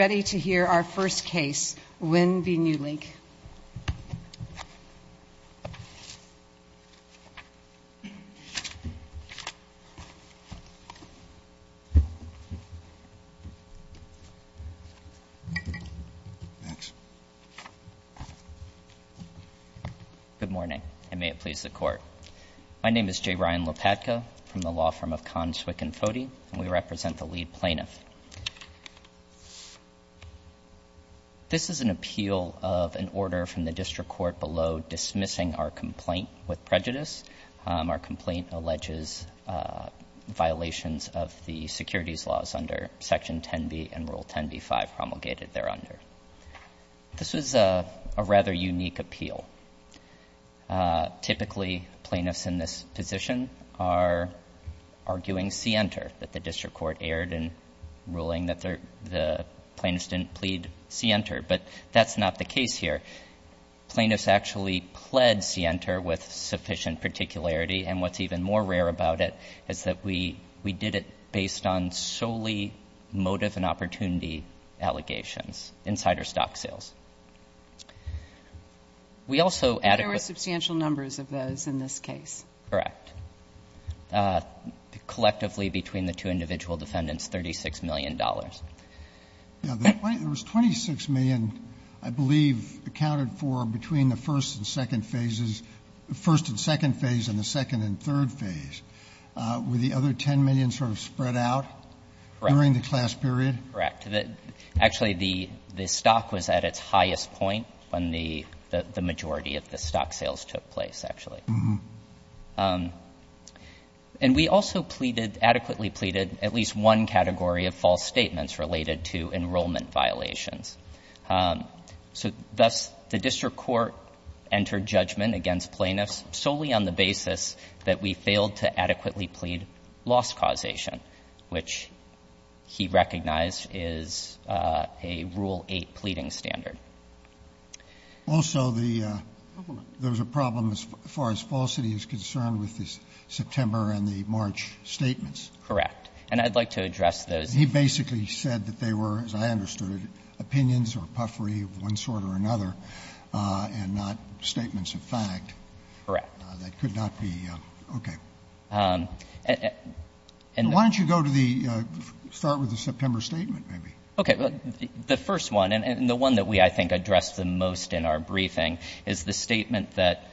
Good morning, and may it please the Court. My name is J. Ryan Lopatka from the law firm of Conn, Swick and Foddy, and we represent the lead plaintiff. This is an appeal of an order from the District Court below dismissing our complaint with prejudice. Our complaint alleges violations of the securities laws under Section 10b and Rule 10b-5 promulgated thereunder. This is a rather unique appeal. Typically, plaintiffs in this position are arguing scienter that the District Court erred in ruling that the plaintiff didn't plead scienter, but that's not the case here. Plaintiffs actually pled scienter with sufficient particularity, and what's even more rare about it is that we did it based on solely motive and opportunity allegations, insider stock sales. We also adequate There were substantial numbers of those in this case. Correct. Collectively, between the two individual defendants, $36 million. There was $26 million, I believe, accounted for between the first and second phases the first and second phase and the second and third phase. Were the other $10 million sort of spread out? Correct. During the class period? Correct. Actually, the stock was at its highest point when the majority of the stock sales took place, actually. Uh-huh. And we also pleaded, adequately pleaded, at least one category of false statements related to enrollment violations. So thus, the District Court entered judgment against plaintiffs solely on the basis that we failed to adequately plead loss causation, which he recognized is a Rule 8 pleading standard. Also, the — there was a problem as far as falsity is concerned with the September and the March statements. Correct. And I'd like to address those. He basically said that they were, as I understood it, opinions or puffery of one sort or another and not statements of fact. Correct. That could not be — okay. And — Why don't you go to the — start with the September statement, maybe. Okay. The first one, and the one that we, I think, addressed the most in our briefing, is the statement that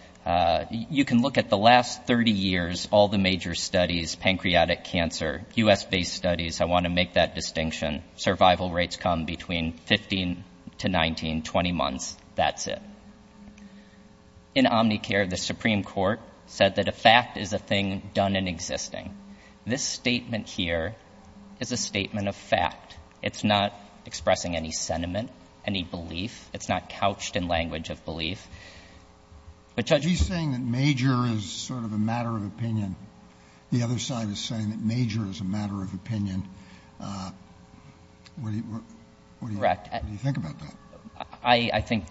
you can look at the last 30 years, all the major studies, pancreatic cancer, U.S.-based studies. I want to make that distinction. Survival rates come between 15 to 19, 20 months. That's it. In Omnicare, the Supreme Court said that a fact is a thing done in existing. This statement here is a statement of fact. It's not expressing any sentiment, any belief. It's not couched in language of belief. But Judge — He's saying that major is sort of a matter of opinion. The other side is saying that major is a matter of opinion. What do you — what do you think about that? I think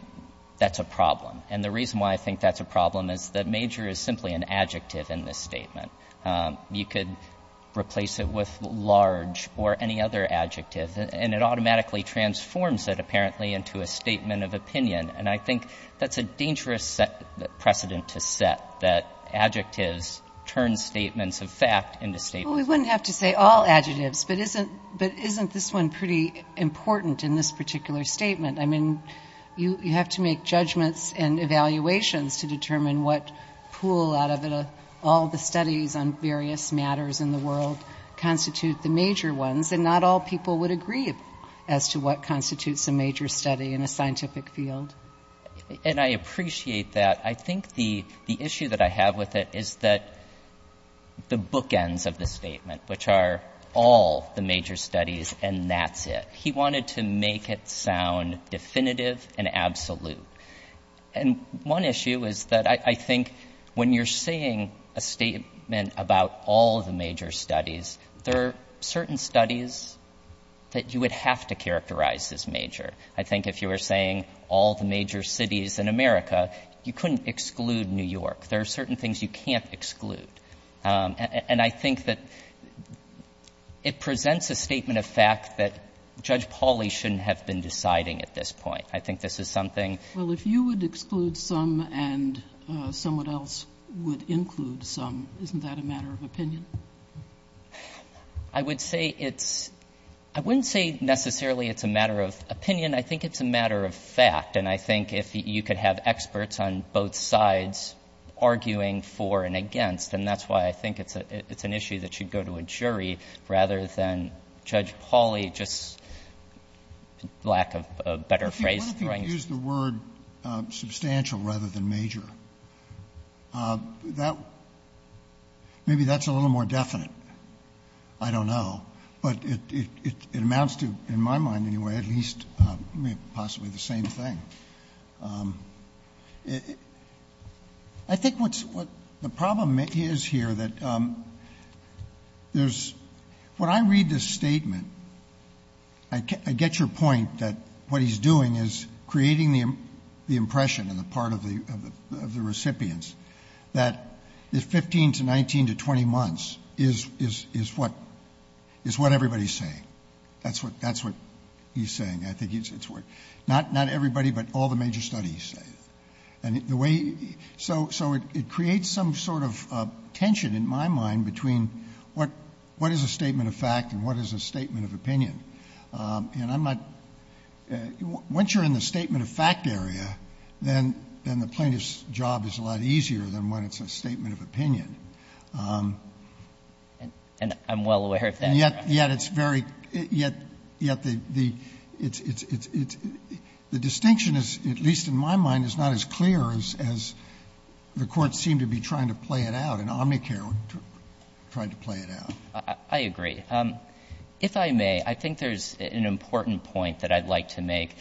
that's a problem. And the reason why I think that's a problem is that major is simply an adjective in this statement. You could replace it with large or any other adjective, and it automatically transforms it, apparently, into a statement of opinion. And I think that's a dangerous precedent to set, that adjectives turn statements of fact into statements of — Well, we wouldn't have to say all adjectives, but isn't — but isn't this one pretty important in this particular statement? I mean, you have to make judgments and evaluations to determine what pool out of all the studies on various matters in the world constitute the major ones. And not all people would agree as to what constitutes a major study in a scientific field. And I appreciate that. I think the issue that I have with it is that the bookends of the statement, which are all the major studies, and that's it. He wanted to make it sound definitive and absolute. And one issue is that I think when you're saying a statement about all the major studies, there are certain studies that you would have to characterize as major. I think if you were saying all the major cities in America, you couldn't exclude New York. There are certain things you can't exclude. And I think that it presents a statement of fact that Judge Pauly shouldn't have been deciding at this point. I think this is something — Well, if you would exclude some and someone else would include some, isn't that a matter of opinion? I would say it's — I wouldn't say necessarily it's a matter of opinion. I think it's a matter of fact. And I think if you could have experts on both sides arguing for and against, then that's why I think it's an issue that should go to a jury rather than Judge Pauly just — lack of a better phrase. What if you used the word substantial rather than major? That — maybe that's a little more definite. I don't know. But it amounts to, in my mind anyway, at least possibly the same thing. I think what's — the problem is here that there's — when I read this statement, I get your point that what he's doing is creating the impression on the part of the recipients that the 15 to 19 to 20 months is what everybody's saying. That's what he's saying, I think it's what — not everybody, but everybody. All the major studies say it. And the way — so it creates some sort of tension in my mind between what is a statement of fact and what is a statement of opinion. And I'm not — once you're in the statement of fact area, then the plaintiff's job is a lot easier than when it's a statement of opinion. And I'm well aware of that, Your Honor. Yet it's very — yet the — the distinction is, at least in my mind, is not as clear as the Court seemed to be trying to play it out, and Omnicare tried to play it out. I agree. If I may, I think there's an important point that I'd like to make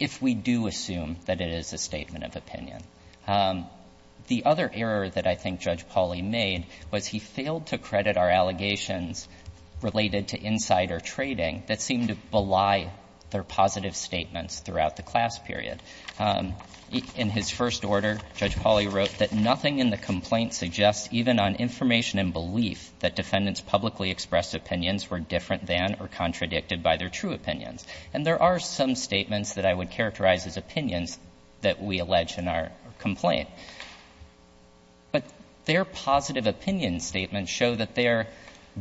if we do assume that it is a statement of opinion. The other error that I think Judge Pauly made was he failed to credit our allegations related to insider trading that seemed to belie their positive statements throughout the class period. In his first order, Judge Pauly wrote that nothing in the complaint suggests even on information and belief that defendants' publicly expressed opinions were different than or contradicted by their true opinions. And there are some statements that I would characterize as opinions that we allege in our complaint. But their positive opinion statements show that they're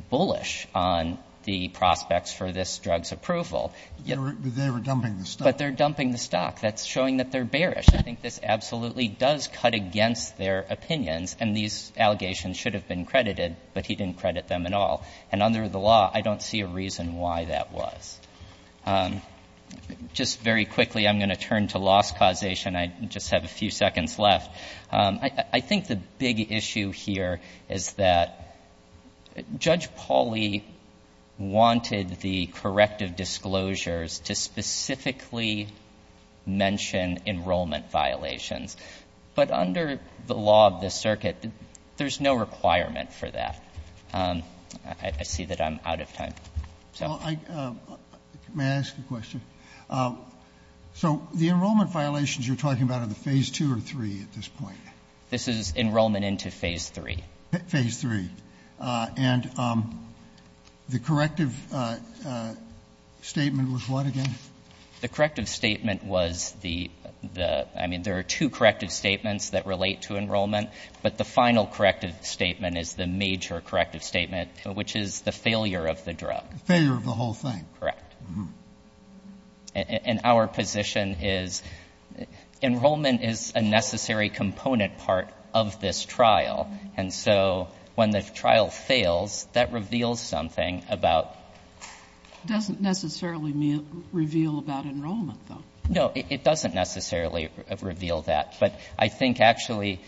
bullish on the prospects for this drug's approval. They were dumping the stock. But they're dumping the stock. That's showing that they're bearish. I think this absolutely does cut against their opinions, and these allegations should have been credited, but he didn't credit them at all. And under the law, I don't see a reason why that was. Just very quickly, I'm going to turn to loss causation. I just have a few seconds left. I think the big issue here is that Judge Pauly wanted the corrective disclosures to specifically mention enrollment violations. But under the law of the circuit, there's no requirement for that. I see that I'm out of time. May I ask a question? So the enrollment violations you're talking about are the Phase 2 or 3 at this point? This is enrollment into Phase 3. Phase 3. And the corrective statement was what again? The corrective statement was the — I mean, there are two corrective statements that relate to enrollment. But the final corrective statement is the major corrective statement, which is the failure of the whole thing. Failure of the whole thing. Correct. And our position is enrollment is a necessary component part of this trial. And so when the trial fails, that reveals something about — It doesn't necessarily reveal about enrollment, though. No. It doesn't necessarily reveal that. But I think actually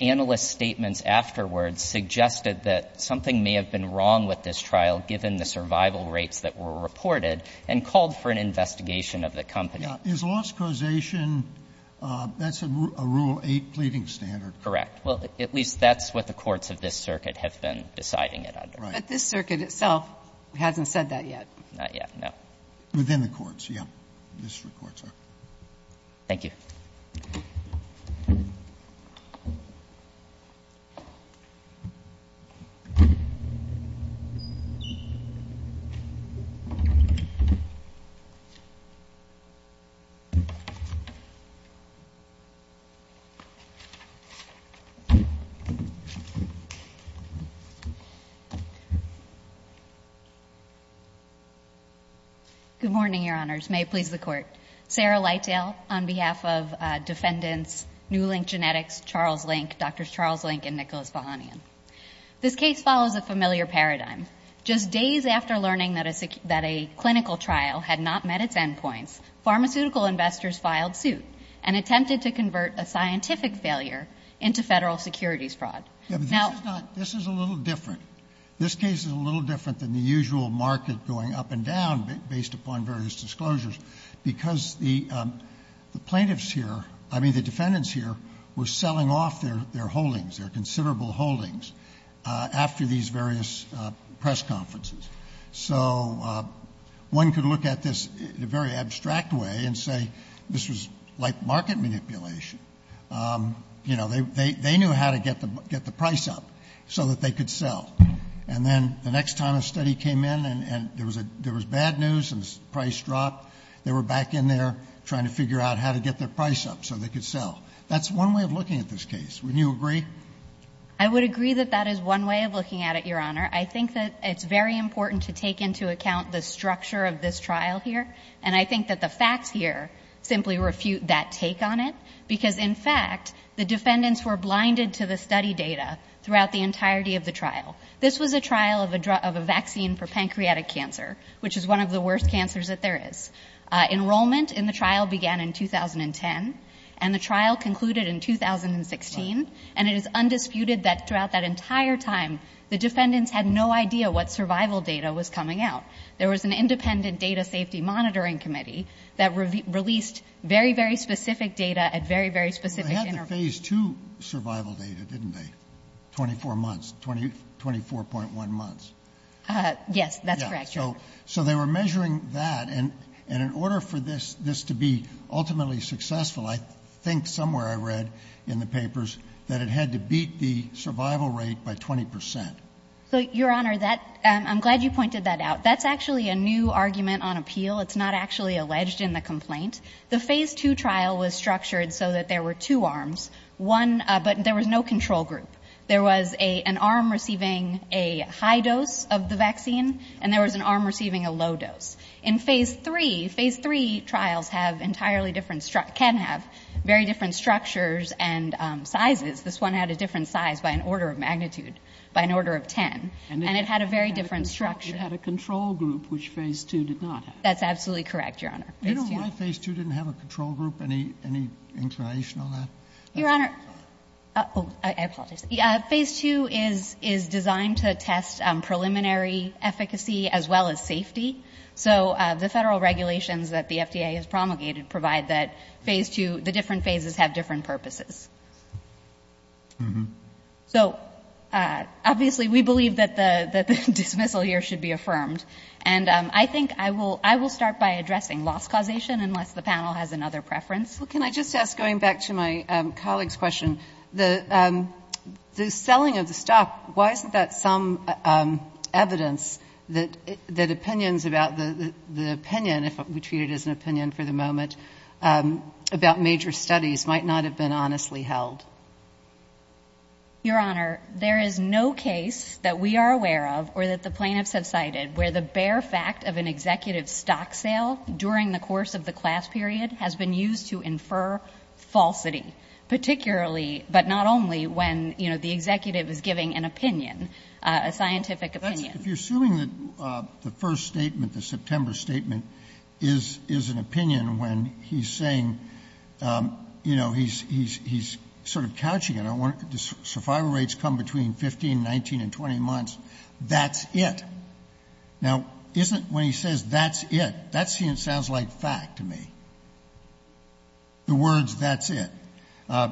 analyst statements afterwards suggested that something may have been wrong with this trial given the survival rates that were reported and called for an investigation of the company. Yeah. Is loss causation, that's a Rule 8 pleading standard. Correct. Well, at least that's what the courts of this circuit have been deciding it under. Right. But this circuit itself hasn't said that yet. Not yet, no. Within the courts, yeah. District courts are. Thank you. Good morning, Your Honors. May it please the Court. Sarah Lytale on behalf of defendants Newlink Genetics, Charles Link, Drs. Charles Link and Nicholas Bohanian. This case follows a familiar paradigm. Just days after learning that a clinical trial had not met its endpoints, pharmaceutical investors filed suit and attempted to convert a scientific failure into federal securities fraud. Yeah, but this is a little different. This case is a little different than the usual market going up and down based upon various disclosures because the plaintiffs here, I mean the defendants here, were selling off their holdings, their considerable holdings, after these various press conferences. So one could look at this in a very abstract way and say this was like market manipulation. You know, they knew how to get the price up so that they could sell. And then the next time a study came in and there was bad news and the price dropped, they were back in there trying to figure out how to get their price up so they could sell. That's one way of looking at this case. Wouldn't you agree? I would agree that that is one way of looking at it, Your Honor. I think that it's very important to take into account the structure of this trial here, and I think that the facts here simply refute that take on it because, in fact, the defendants were blinded to the study data throughout the entirety of the trial. This was a trial of a vaccine for pancreatic cancer, which is one of the worst cancers that there is. Enrollment in the trial began in 2010 and the trial concluded in 2016, and it is undisputed that throughout that entire time the defendants had no idea what survival data was coming out. There was an independent data safety monitoring committee that released very, very specific data at very, very specific intervals. Well, they had the Phase II survival data, didn't they, 24 months, 24.1 months? Yes, that's correct, Your Honor. So they were measuring that, and in order for this to be ultimately successful, I think somewhere I read in the papers that it had to beat the survival rate by 20 percent. So, Your Honor, that — I'm glad you pointed that out. That's actually a new argument on appeal. It's not actually alleged in the complaint. The Phase II trial was structured so that there were two arms, one — but there was no control group. There was an arm receiving a high dose of the vaccine and there was an arm receiving a low dose. In Phase III, Phase III trials have entirely different — can have very different structures and sizes. This one had a different size by an order of magnitude, by an order of 10, and it had a very different structure. It had a control group, which Phase II did not have. That's absolutely correct, Your Honor. You don't know why Phase II didn't have a control group? Any inclination on that? Your Honor — Sorry. Oh, I apologize. Phase II is designed to test preliminary efficacy as well as safety. So the Federal regulations that the FDA has promulgated provide that Phase II — the different phases have different purposes. So, obviously, we believe that the dismissal here should be affirmed. And I think I will start by addressing loss causation unless the panel has another preference. Well, can I just ask, going back to my colleague's question, the selling of the stock, why isn't that some evidence that opinions about the opinion, if we treat it as an opinion for the moment, about major studies might not have been honestly held? Your Honor, there is no case that we are aware of or that the plaintiffs have cited where the bare fact of an executive stock sale during the course of the class period has been used to infer falsity, particularly, but not only, when, you know, the executive is giving an opinion, a scientific opinion. If you're assuming that the first statement, the September statement, is an opinion when he's saying, you know, he's sort of couching it. I want — the survival rates come between 15, 19, and 20 months. That's it. Now, isn't — when he says, that's it, that sounds like fact to me, the words, that's it.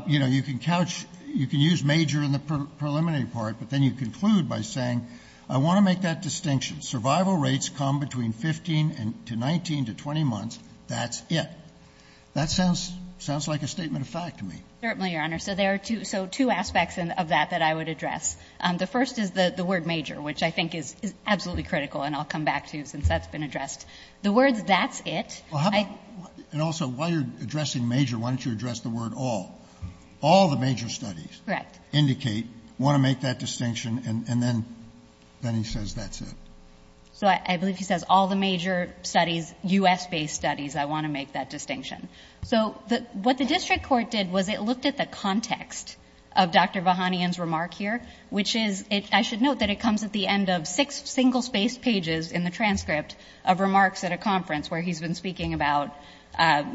You know, you can couch — you can use major in the preliminary part, but then you conclude by saying, I want to make that distinction. Survival rates come between 15 to 19 to 20 months. That's it. That sounds — sounds like a statement of fact to me. Certainly, Your Honor. So there are two — so two aspects of that that I would address. The first is the word major, which I think is absolutely critical and I'll come back to since that's been addressed. The words, that's it, I — Well, how about — and also, while you're addressing major, why don't you address the word all? All the major studies indicate, want to make that distinction, and then he says, that's it. So I believe he says all the major studies, U.S.-based studies, I want to make that distinction. So what the district court did was it looked at the context of Dr. Vahanian's remark here, which is — I should note that it comes at the end of six single-spaced pages in the transcript of remarks at a conference where he's been speaking about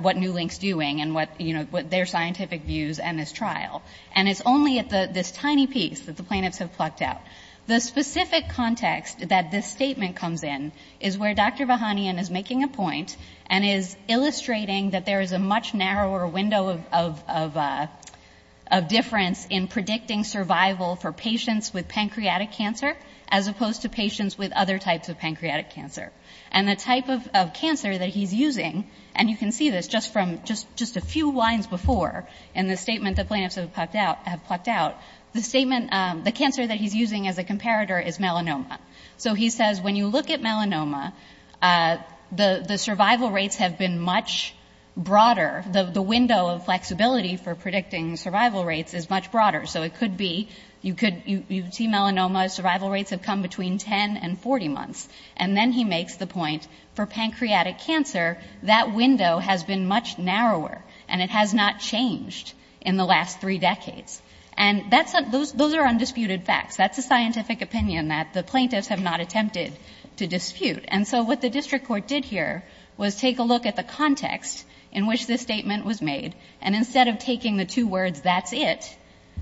what Newlink's doing and what, you know, their scientific views and his trial. And it's only at this tiny piece that the plaintiffs have plucked out. The specific context that this statement comes in is where Dr. Vahanian is making a point and is illustrating that there is a much narrower window of difference in predicting survival for patients with pancreatic cancer as opposed to patients with other types of pancreatic cancer. And the type of cancer that he's using, and you can see this just from just a few lines before in the statement the plaintiffs have plucked out, the cancer that he's using as a comparator is melanoma. So he says when you look at melanoma, the survival rates have been much broader. The window of flexibility for predicting survival rates is much broader. So it could be — you could — you see melanoma, survival rates have come between 10 and 40 months. And then he makes the point for pancreatic cancer, that window has been much narrower, and it has not changed in the last three decades. And that's — those are undisputed facts. That's a scientific opinion that the plaintiffs have not attempted to dispute. And so what the district court did here was take a look at the context in which this statement was made. And instead of taking the two words, that's it,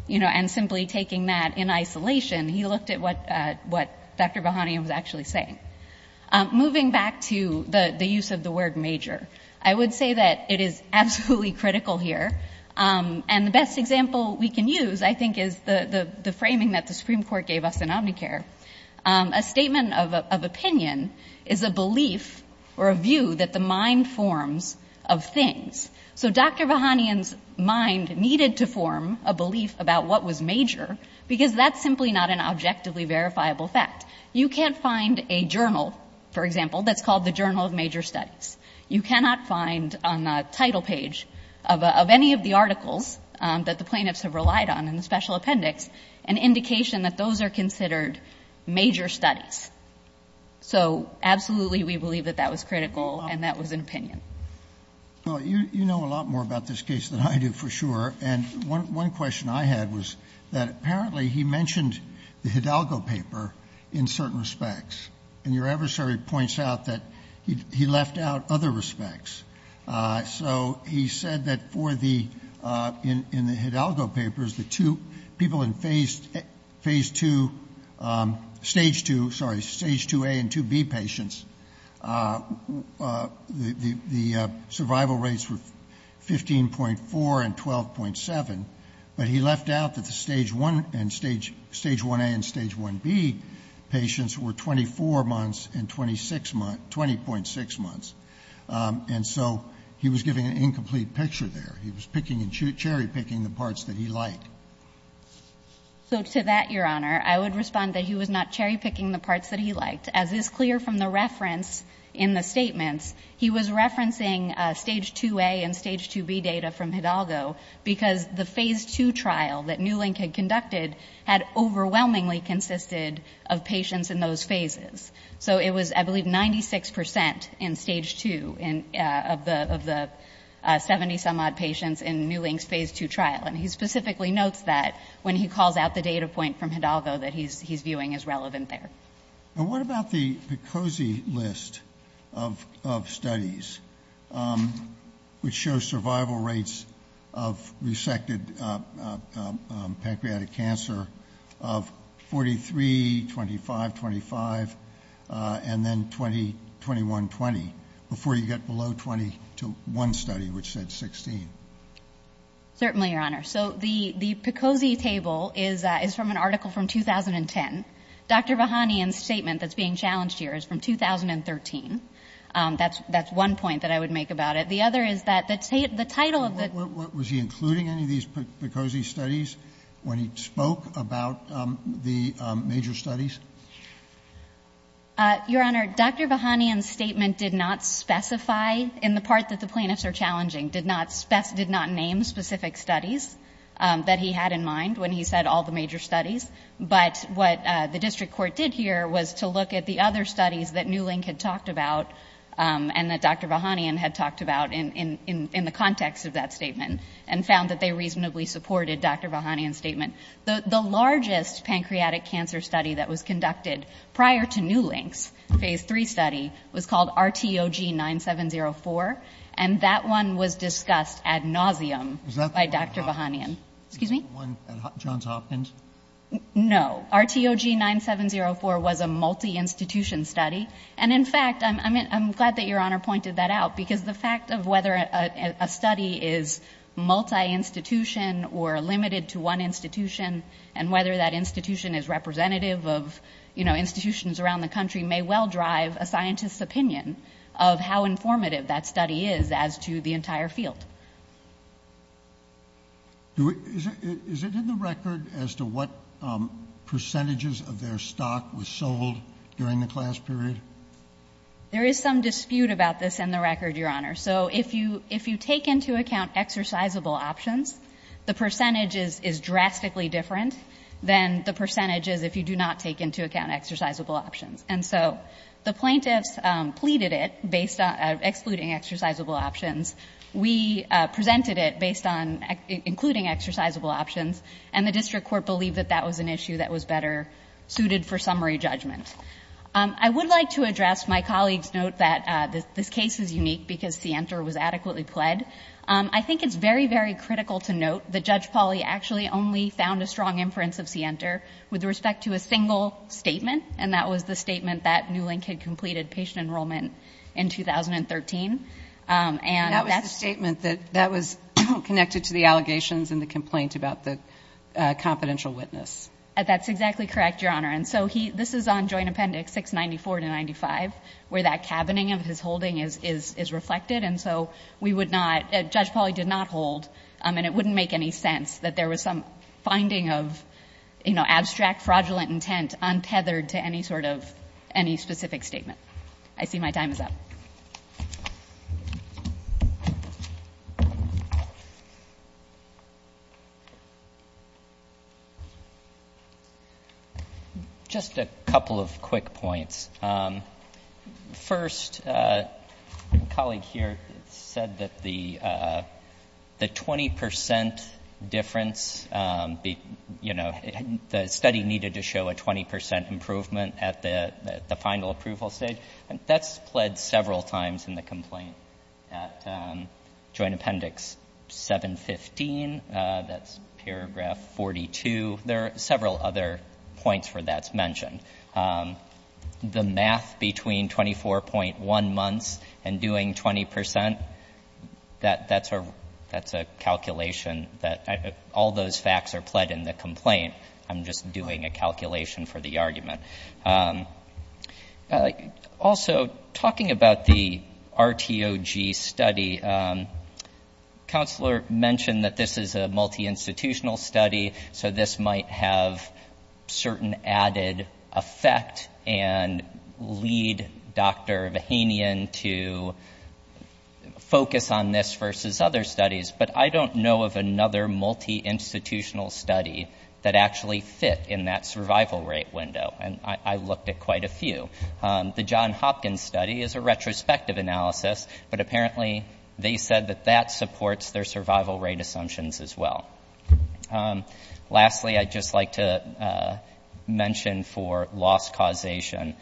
you know, and simply taking that in isolation, he looked at what Dr. Vahanian was actually saying. Moving back to the use of the word major, I would say that it is absolutely critical here. And the best example we can use, I think, is the framing that the Supreme Court gave us in Omnicare. A statement of opinion is a belief or a view that the mind forms of things. So Dr. Vahanian's mind needed to form a belief about what was major because that's simply not an objectively verifiable fact. You can't find a journal, for example, that's called the Journal of Major Studies. You cannot find on the title page of any of the articles that the plaintiffs have relied on in the special appendix an indication that those are considered major studies. So absolutely we believe that that was critical and that was an opinion. Well, you know a lot more about this case than I do for sure. And one question I had was that apparently he mentioned the Hidalgo paper in certain respects. And your adversary points out that he left out other respects. So he said that for the Hidalgo papers, the two people in Phase 2, Stage 2, sorry, Stage 2A and 2B patients, the survival rates were 15.4 and 12.7. But he left out that the Stage 1A and Stage 1B patients were 24 months and 20.6 months. And so he was giving an incomplete picture there. He was picking and cherry-picking the parts that he liked. So to that, Your Honor, I would respond that he was not cherry-picking the parts that he liked. As is clear from the reference in the statements, he was referencing Stage 2A and Stage 2B data from Hidalgo because the Phase 2 trial that Newlink had conducted had overwhelmingly consisted of patients in those phases. So it was, I believe, 96 percent in Stage 2 of the 70-some-odd patients in Newlink's Phase 2 trial. And he specifically notes that when he calls out the data point from Hidalgo that he's viewing as relevant there. And what about the PCOSI list of studies, which shows survival rates of resected pancreatic cancer of 43, 25, 25, and then 21, 20, before you get below 20 to one study, which said 16? Certainly, Your Honor. So the PCOSI table is from an article from 2010. Dr. Vahanian's statement that's being challenged here is from 2013. That's one point that I would make about it. The other is that the title of the ---- What, was he including any of these PCOSI studies when he spoke about the major Your Honor, Dr. Vahanian's statement did not specify in the part that the plaintiffs are challenging, did not name specific studies that he had in mind when he said all the major studies. But what the district court did here was to look at the other studies that New Link had talked about and that Dr. Vahanian had talked about in the context of that statement and found that they reasonably supported Dr. Vahanian's statement. The largest pancreatic cancer study that was conducted prior to New Link's Phase 3 study was called RTOG 9704. And that one was discussed ad nauseum by Dr. Vahanian. Excuse me? Was that one at Johns Hopkins? No. RTOG 9704 was a multi-institution study. And in fact, I'm glad that Your Honor pointed that out because the fact of whether a study is multi-institution or limited to one institution and whether that institution is representative of, you know, institutions around the country may well drive a scientist's opinion of how informative that study is as to the entire field. Is it in the record as to what percentages of their stock was sold during the class period? There is some dispute about this in the record, Your Honor. So if you take into account exercisable options, the percentage is drastically different than the percentages if you do not take into account exercisable options. And so the plaintiffs pleaded it based on excluding exercisable options. We presented it based on including exercisable options. And the district court believed that that was an issue that was better suited for summary judgment. I would like to address my colleague's note that this case is unique because Sienter was adequately pled. I think it's very, very critical to note that Judge Pauly actually only found a strong inference of Sienter with respect to a single statement, and that was the statement that Newlink had completed patient enrollment in 2013. And that's the statement that was connected to the allegations and the complaint about the confidential witness. That's exactly correct, Your Honor. And so this is on Joint Appendix 694 to 95, where that cabining of his holding is reflected. And so we would not – Judge Pauly did not hold, and it wouldn't make any sense that there was some finding of, you know, abstract fraudulent intent untethered to any sort of – any specific statement. I see my time is up. Thank you. Just a couple of quick points. First, a colleague here said that the 20 percent difference, you know, the study needed to show a 20 percent improvement at the final approval stage. That's pled several times in the complaint at Joint Appendix 715. That's paragraph 42. There are several other points where that's mentioned. The math between 24.1 months and doing 20 percent, that's a calculation that – all those facts are pled in the complaint. I'm just doing a calculation for the argument. Also, talking about the RTOG study, Counselor mentioned that this is a multi-institutional study, so this might have certain added effect and lead Dr. Vahinian to focus on this versus other studies. But I don't know of another multi-institutional study that actually fit in that survival rate window. And I looked at quite a few. The John Hopkins study is a retrospective analysis, but apparently they said that that supports their survival rate assumptions as well. Lastly, I'd just like to mention for loss causation,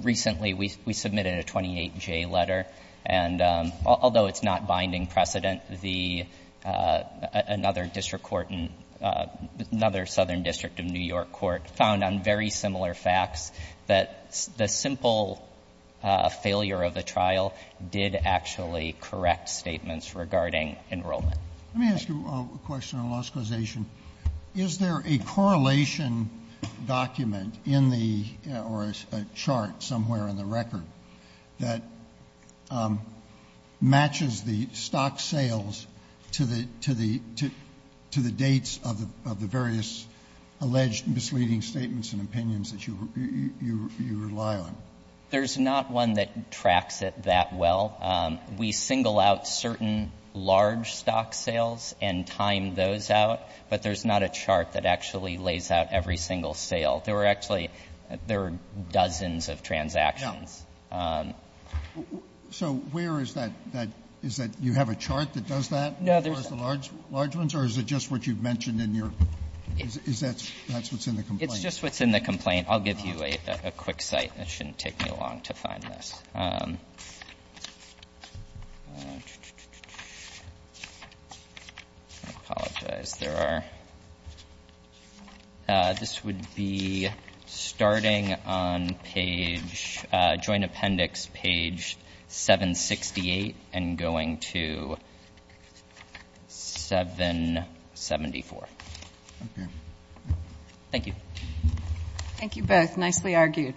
recently we submitted a 28-J letter, and although it's not binding precedent, another district of New York court found on very similar facts that the simple failure of the trial did actually correct statements regarding enrollment. Let me ask you a question on loss causation. Is there a correlation document in the – or a chart somewhere in the record that matches the stock sales to the dates of the various alleged misleading statements and opinions that you rely on? There's not one that tracks it that well. We single out certain large stock sales and time those out, but there's not a chart that actually lays out every single sale. There were actually dozens of transactions. Yeah. So where is that? Is that you have a chart that does that for the large ones, or is it just what you've mentioned in your – that's what's in the complaint? It's just what's in the complaint. I'll give you a quick cite. It shouldn't take me long to find this. I apologize. There are – this would be starting on page – joint appendix page 768 and going to 774. Okay. Thank you. Thank you both. Nicely argued.